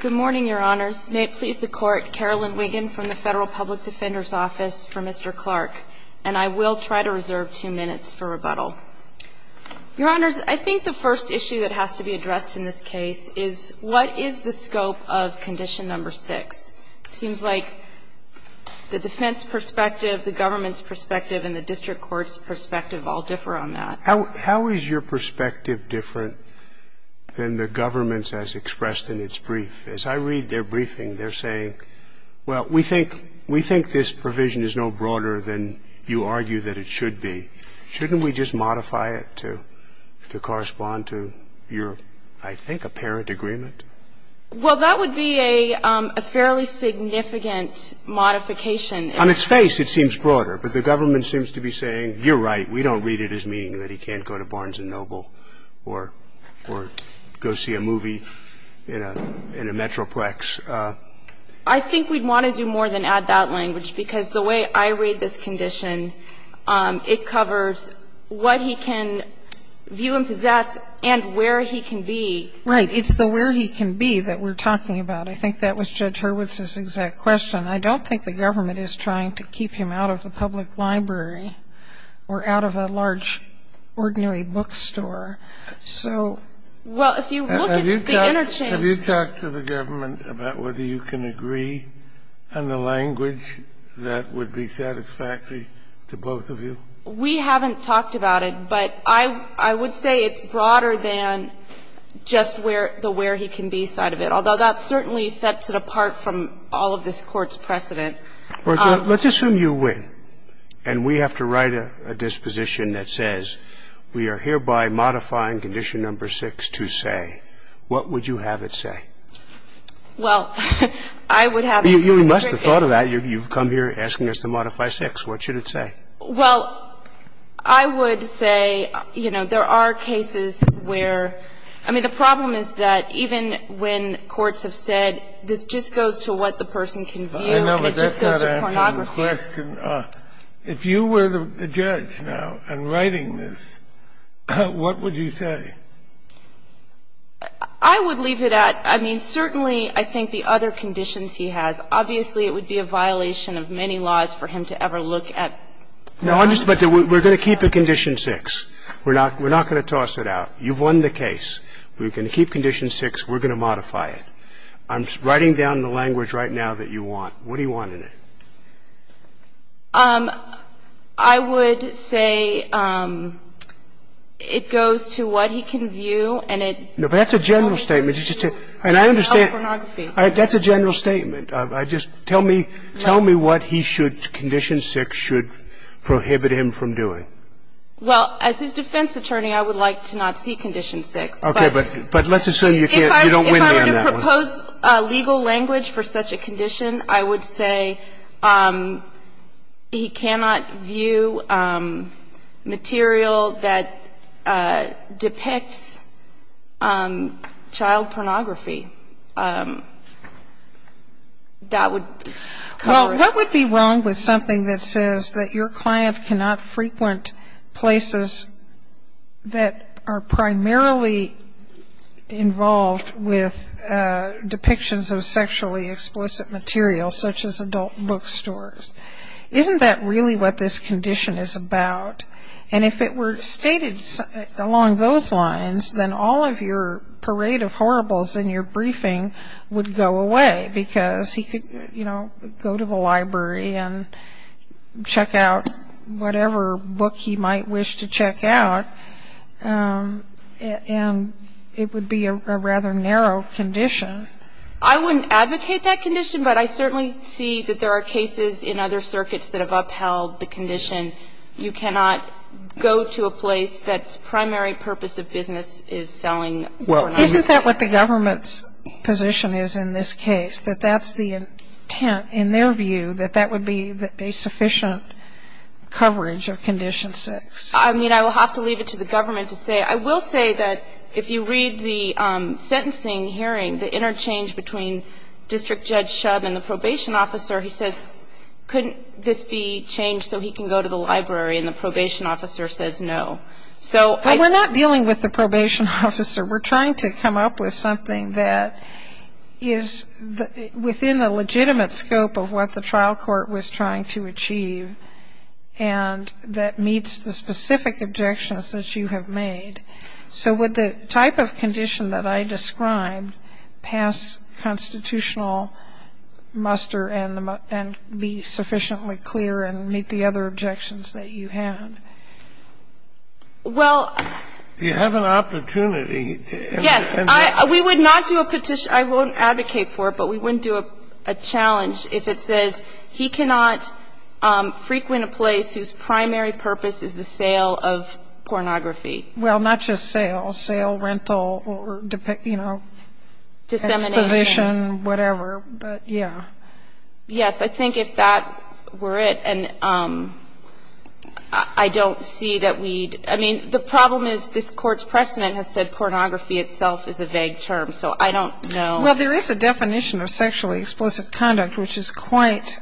Good morning, Your Honors. May it please the Court, Carolyn Wiggin from the Federal Public Defender's Office for Mr. Clark, and I will try to reserve two minutes for rebuttal. Your Honors, I think the first issue that has to be addressed in this case is what is the scope of Condition No. 6? It seems like the defense perspective, the government's perspective, and the district court's perspective all differ on that. How is your perspective different than the government's as expressed in its brief? As I read their briefing, they're saying, well, we think this provision is no broader than you argue that it should be. Shouldn't we just modify it to correspond to your, I think, apparent agreement? Well, that would be a fairly significant modification. On its face, it seems broader, but the government seems to be saying, you're right, we don't read it as meaning that he can't go to Barnes & Noble or go see a movie in a Metroplex. I think we'd want to do more than add that language, because the way I read this condition, it covers what he can view and possess and where he can be. Right. It's the where he can be that we're talking about. I think that was Judge Hurwitz's exact question. I don't think the government is trying to keep him out of the public library or out of a large ordinary bookstore. So the interchange Can you talk to the government about whether you can agree on the language that would be satisfactory to both of you? We haven't talked about it, but I would say it's broader than just the where he can be side of it. I think it's broader than just the where he's trying to be. I agree that it's broader than just the where he can be, although that's certainly set to the part from all of this Court's precedent. Well, let's assume you win, and we have to write a disposition that says, we are hereby modifying condition number 6 to say, what would you have it say? Well, I would have it restrict it. You must have thought of that. You've come here asking us to modify 6. What should it say? Well, I would say, you know, there are cases where the problem is that even when courts have said this just goes to what the person can view and it just goes to pornography. I know, but that's not answering the question. If you were the judge now and writing this, what would you say? I would leave it at, I mean, certainly, I think the other conditions he has. Obviously, it would be a violation of many laws for him to ever look at. No, I'm just going to say we're going to keep condition 6. We're not going to toss it out. You've won the case. We're going to keep condition 6. We're going to modify it. I'm writing down the language right now that you want. What do you want in it? I would say it goes to what he can view and it goes to pornography. No, but that's a general statement. And I understand that's a general statement. Just tell me what he should, condition 6 should prohibit him from doing. Well, as his defense attorney, I would like to not see condition 6. Okay. But let's assume you can't, you don't win me on that one. I suppose legal language for such a condition, I would say he cannot view material that depicts child pornography. That would cover it. Well, what would be wrong with something that says that your client cannot frequent places that are primarily involved with depictions of sexually explicit material, such as adult bookstores? Isn't that really what this condition is about? And if it were stated along those lines, then all of your parade of horribles in your briefing would go away because he could, you know, go to the library and check out whatever book he might wish to check out. And it would be a rather narrow condition. I wouldn't advocate that condition, but I certainly see that there are cases in other circuits that have upheld the condition. You cannot go to a place that's primary purpose of business is selling pornography. Isn't that what the government's position is in this case, that that's the intent in their view, that that would be a sufficient coverage of Condition 6? I mean, I will have to leave it to the government to say. I will say that if you read the sentencing hearing, the interchange between District Judge Shub and the probation officer, he says, couldn't this be changed so he can go to the library? And the probation officer says no. So I think we're not dealing with the probation officer. We're trying to come up with something that is within the legitimate scope of what the trial court was trying to achieve and that meets the specific objections that you have made. So would the type of condition that I described pass constitutional muster and be sufficiently clear and meet the other objections that you had? Well, You have an opportunity. Yes. We would not do a petition. I won't advocate for it, but we wouldn't do a challenge if it says he cannot frequent a place whose primary purpose is the sale of pornography. Well, not just sale. Sale, rental, or, you know, Dissemination. Exposition, whatever. But, yeah. Yes. I think if that were it, and I don't see that we'd, I mean, the problem is this court's precedent has said pornography itself is a vague term. So I don't know. Well, there is a definition of sexually explicit conduct, which is quite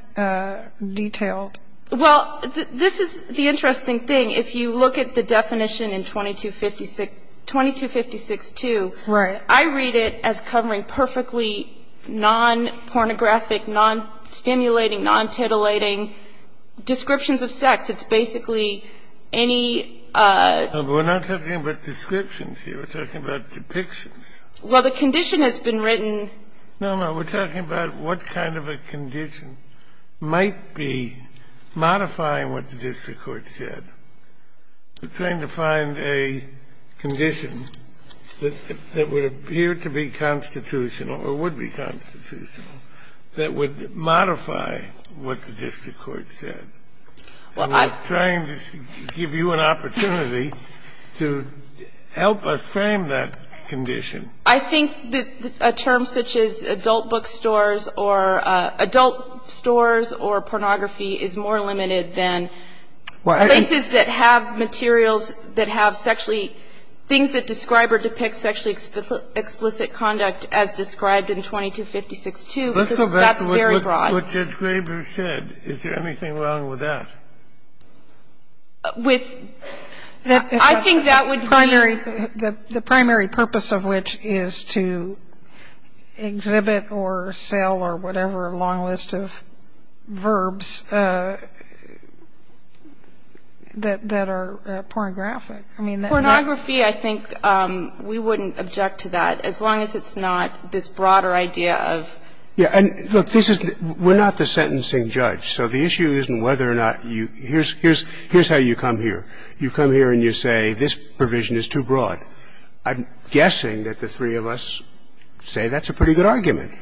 detailed. Well, this is the interesting thing. If you look at the definition in 2256, 2256-2. Right. And I read it as covering perfectly non-pornographic, non-stimulating, non-titillating descriptions of sex. It's basically any No, but we're not talking about descriptions here. We're talking about depictions. Well, the condition has been written No, no. We're talking about what kind of a condition might be modifying what the district court said. We're trying to find a condition that would appear to be constitutional or would be constitutional that would modify what the district court said. Well, I'm And we're trying to give you an opportunity to help us frame that condition. I think a term such as adult bookstores or adult stores or pornography is more limited than places that have materials that have sexually things that describe or depict sexually explicit conduct as described in 2256-2, because that's very broad. Let's go back to what Judge Graber said. Is there anything wrong with that? With the I think that would be The primary purpose of which is to exhibit or sell or whatever a long list of verbs that are pornographic. I mean, that Pornography, I think we wouldn't object to that as long as it's not this broader idea of Yeah. And look, this is we're not the sentencing judge. So the issue isn't whether or not you here's here's here's how you come here. You come here and you say this provision is too broad. I'm guessing that the three of us say that's a pretty good argument,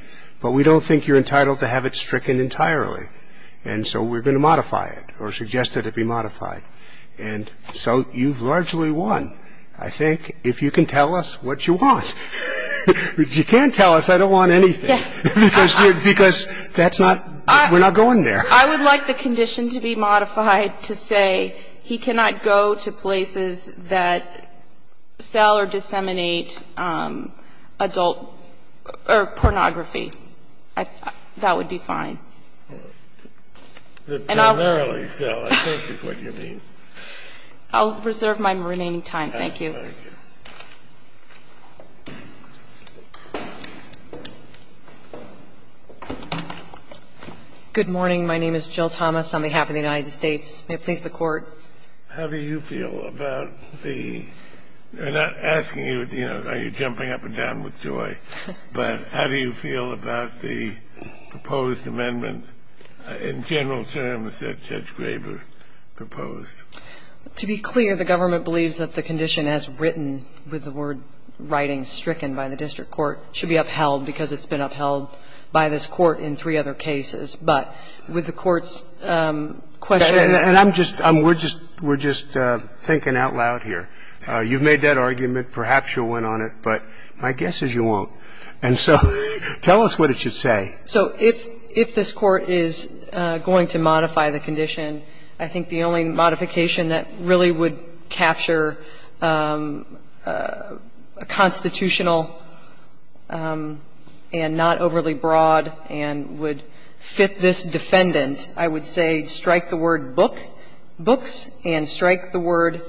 but we don't think you're entitled to have it stricken entirely. And so we're going to modify it or suggest that it be modified. And so you've largely won. I think if you can tell us what you want. You can't tell us I don't want anything, because that's not we're not going there. I would like the condition to be modified to say he cannot go to places that sell or disseminate adult or pornography. That would be fine. And I'll Primarily sell, I think is what you mean. I'll reserve my remaining time. Thank you. Good morning. My name is Jill Thomas on behalf of the United States. May it please the Court. How do you feel about the they're not asking you, you know, are you jumping up and down with joy? But how do you feel about the proposed amendment in general terms that Judge Graber proposed? To be clear, the government believes that the condition as written with the word writing stricken by the district court should be upheld because it's been upheld by this Court in three other cases. But with the Court's question And I'm just we're just we're just thinking out loud here. You've made that argument. Perhaps you'll win on it. But my guess is you won't. And so tell us what it should say. So if if this Court is going to modify the condition, I think the only modification that really would capture a constitutional and not overly broad and would fit this defendant, I would say strike the word book books and strike the word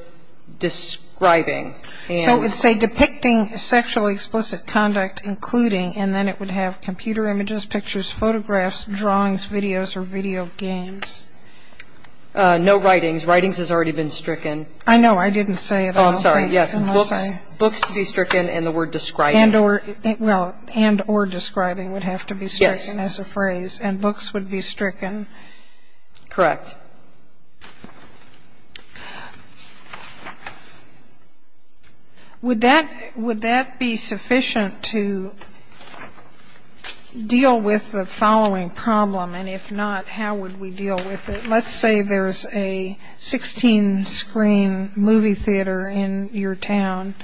describing. So it's a depicting sexually explicit conduct, including and then it would have computer images, pictures, photographs, drawings, videos or video games. No writings. Writings has already been stricken. I know. I didn't say it. I'm sorry. Yes. Books to be stricken and the word describing and or well and or describing would have to be stricken as a phrase and books would be stricken. Correct. Would that would that be sufficient to deal with the following problem? And if not, how would we deal with it? Let's say there's a 16 screen movie theater in your town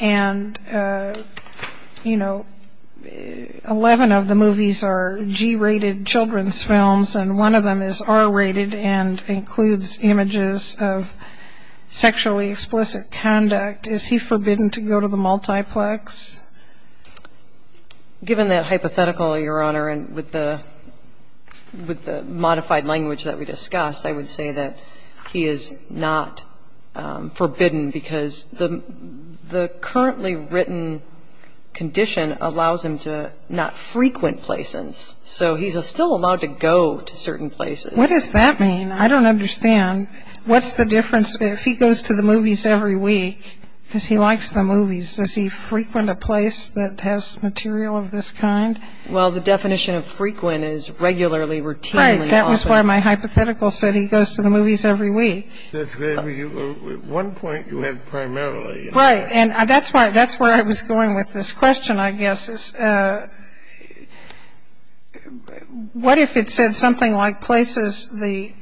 and, you know, 11 of the movies are G rated children's films and one of them is R rated and includes images of sexually explicit conduct. Is he forbidden to go to the multiplex? Given that hypothetical, Your Honor, and with the with the modified language that we discussed, I would say that he is not forbidden because the the currently written condition allows him to not frequent places. So he's still allowed to go to certain places. What does that mean? I don't understand. What's the difference if he goes to the movies every week because he likes the movies? Does he frequent a place that has material of this kind? Well, the definition of frequent is regularly, routinely. That was why my hypothetical said he goes to the movies every week. That's where you at one point you had primarily. Right. And that's why that's where I was going with this question, I guess, is what if it said something like places, the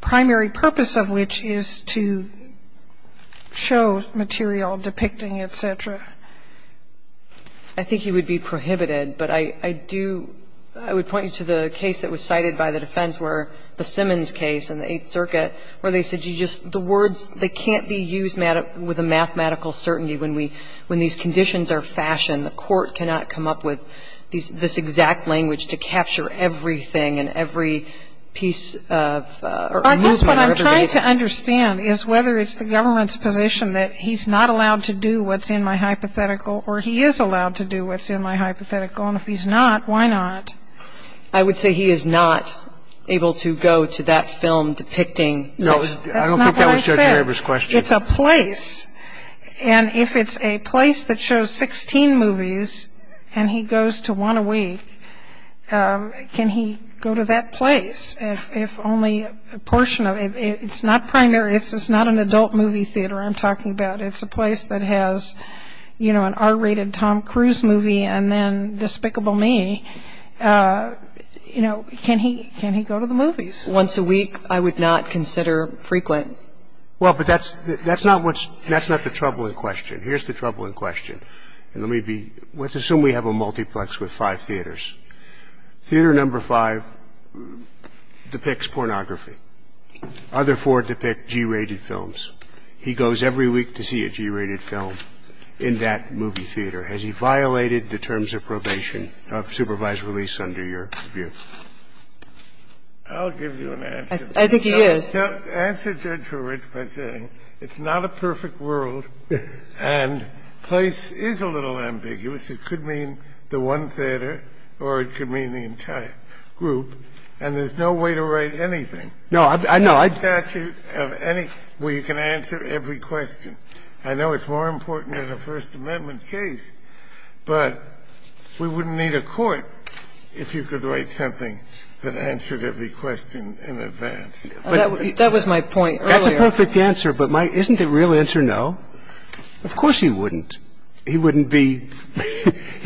primary purpose of which is to show material depicting, et cetera? I think he would be prohibited, but I do I would point you to the case that was cited by the defense where the Simmons case in the Eighth Circuit, where they said you just the words, they can't be used with a mathematical certainty when we when these conditions are fashioned, the court cannot come up with this exact language to capture everything and every piece of movement. I guess what I'm trying to understand is whether it's the government's position that he's not allowed to do what's in my hypothetical or he is allowed to do what's in my hypothetical. And if he's not, why not? I would say he is not able to go to that film depicting. No, I don't think that was Judge Weber's question. It's a place. And if it's a place that shows 16 movies and he goes to one a week, can he go to that place if only a portion of it's not primary. It's not an adult movie theater I'm talking about. It's a place that has, you know, an R-rated Tom Cruise movie and then Despicable Me. You know, can he can he go to the movies? Once a week, I would not consider frequent. Well, but that's that's not what's that's not the troubling question. Here's the troubling question. And let me be let's assume we have a multiplex with five theaters. Theater number five depicts pornography. Other four depict G-rated films. He goes every week to see a G-rated film in that movie theater. Has he violated the terms of probation of supervised release under your view? I'll give you an answer. I think he is. Answer Judge Horwitz by saying it's not a perfect world and place is a little ambiguous. It could mean the one theater or it could mean the entire group. And there's no way to write anything. No, I know. No statute of any where you can answer every question. I know it's more important than a First Amendment case, but we wouldn't need a court if you could write something that answered every question in advance. That was my point earlier. That's a perfect answer, but isn't the real answer no? Of course he wouldn't. He wouldn't be,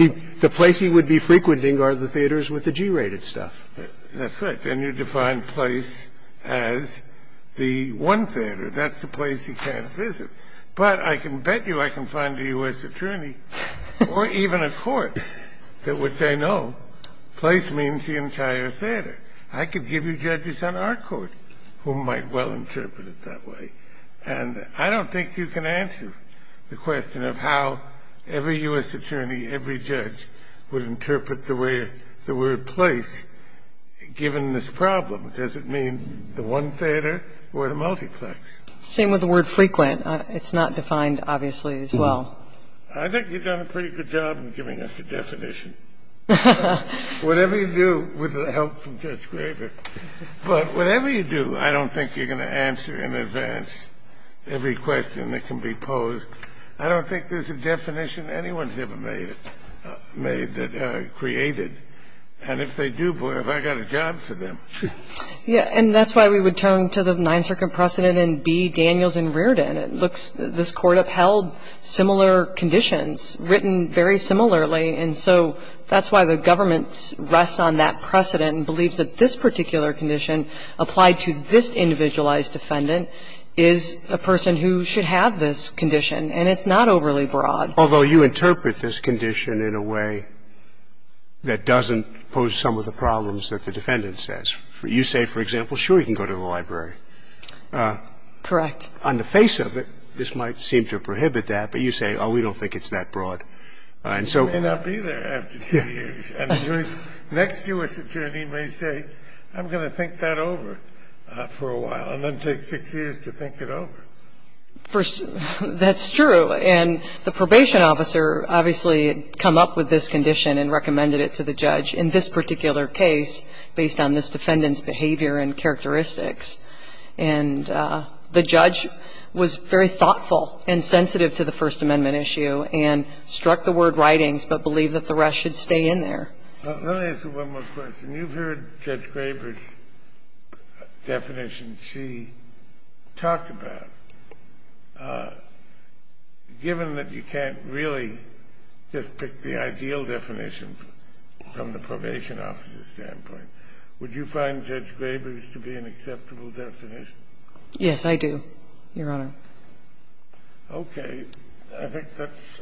the place he would be frequenting are the theaters with the G-rated stuff. That's right. Then you define place as the one theater. That's the place he can't visit. But I can bet you I can find a U.S. attorney or even a court that would say no, place means the entire theater. I could give you judges on our court who might well interpret it that way. And I don't think you can answer the question of how every U.S. attorney, every judge would interpret the word place given this problem. Does it mean the one theater or the multiplex? Same with the word frequent. It's not defined, obviously, as well. I think you've done a pretty good job in giving us the definition. Whatever you do, with the help from Judge Graber, but whatever you do, I don't think you're going to answer in advance every question that can be posed. I don't think there's a definition anyone's ever made that created. And if they do, boy, have I got a job for them. Yeah, and that's why we would turn to the Ninth Circuit precedent in B, Daniels and Reardon. It looks, this court upheld similar conditions, written very similarly. And so that's why the government rests on that precedent and believes that this particular condition applied to this individualized defendant is a person who should have this condition, and it's not overly broad. Although you interpret this condition in a way that doesn't pose some of the problems that the defendant says. You say, for example, sure, you can go to the library. Correct. On the face of it, this might seem to prohibit that, but you say, we don't think it's that broad. And so- You may not be there after two years. And the next U.S. attorney may say, I'm going to think that over for a while, and then take six years to think it over. That's true, and the probation officer obviously had come up with this condition and this particular case based on this defendant's behavior and characteristics. And the judge was very thoughtful and sensitive to the First Amendment issue and struck the word writings, but believed that the rest should stay in there. Let me ask you one more question. You've heard Judge Graber's definition she talked about. Given that you can't really just pick the ideal definition from the probation officer's standpoint, would you find Judge Graber's to be an acceptable definition? Yes, I do, Your Honor. Okay. I think that's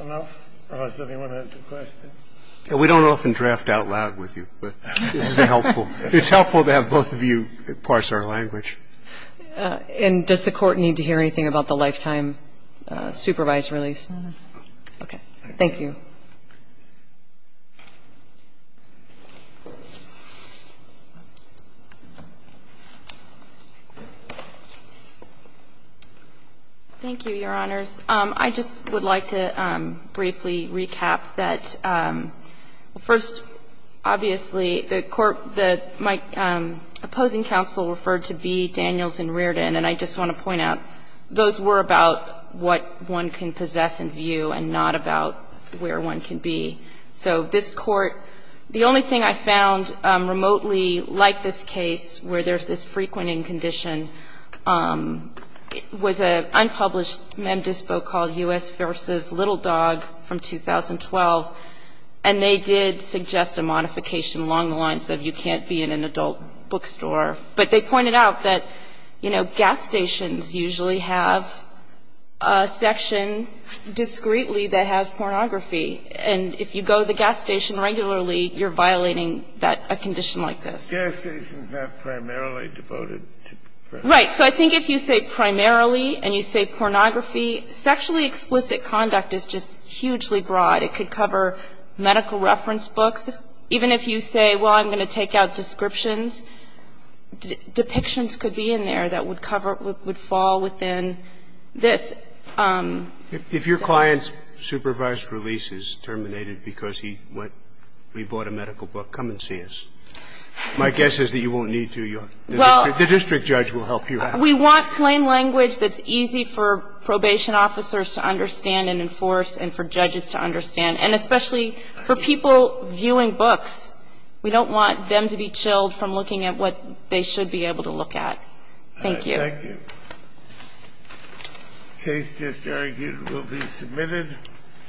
enough, unless anyone has a question. We don't often draft out loud with you, but this is helpful. It's helpful to have both of you parse our language. And does the Court need to hear anything about the lifetime supervised release? No, no. Okay. Thank you. Thank you, Your Honors. I just would like to briefly recap that first, obviously, the court, the opposing counsel referred to B, Daniels, and Reardon. And I just want to point out, those were about what one can possess and view and not about where one can be. So this court, the only thing I found remotely like this case, where there's this frequenting condition, was an unpublished mem dispo called U.S. versus Little Dog from 2012. And they did suggest a modification along the lines of you can't be in an adult bookstore. But they pointed out that gas stations usually have a section discreetly that has pornography. And if you go to the gas station regularly, you're violating that, a condition like this. Gas stations have primarily devoted to pornography. Right. So I think if you say primarily and you say pornography, sexually explicit conduct is just hugely broad. It could cover medical reference books. Even if you say, well, I'm going to take out descriptions, depictions could be in there that would cover, would fall within this. If your client's supervised release is terminated because he went, he bought a medical book, come and see us. My guess is that you won't need to. The district judge will help you out. We want plain language that's easy for probation officers to understand and enforce and for judges to understand. And especially for people viewing books, we don't want them to be chilled from looking at what they should be able to look at. Thank you. Thank you. Case just argued will be submitted.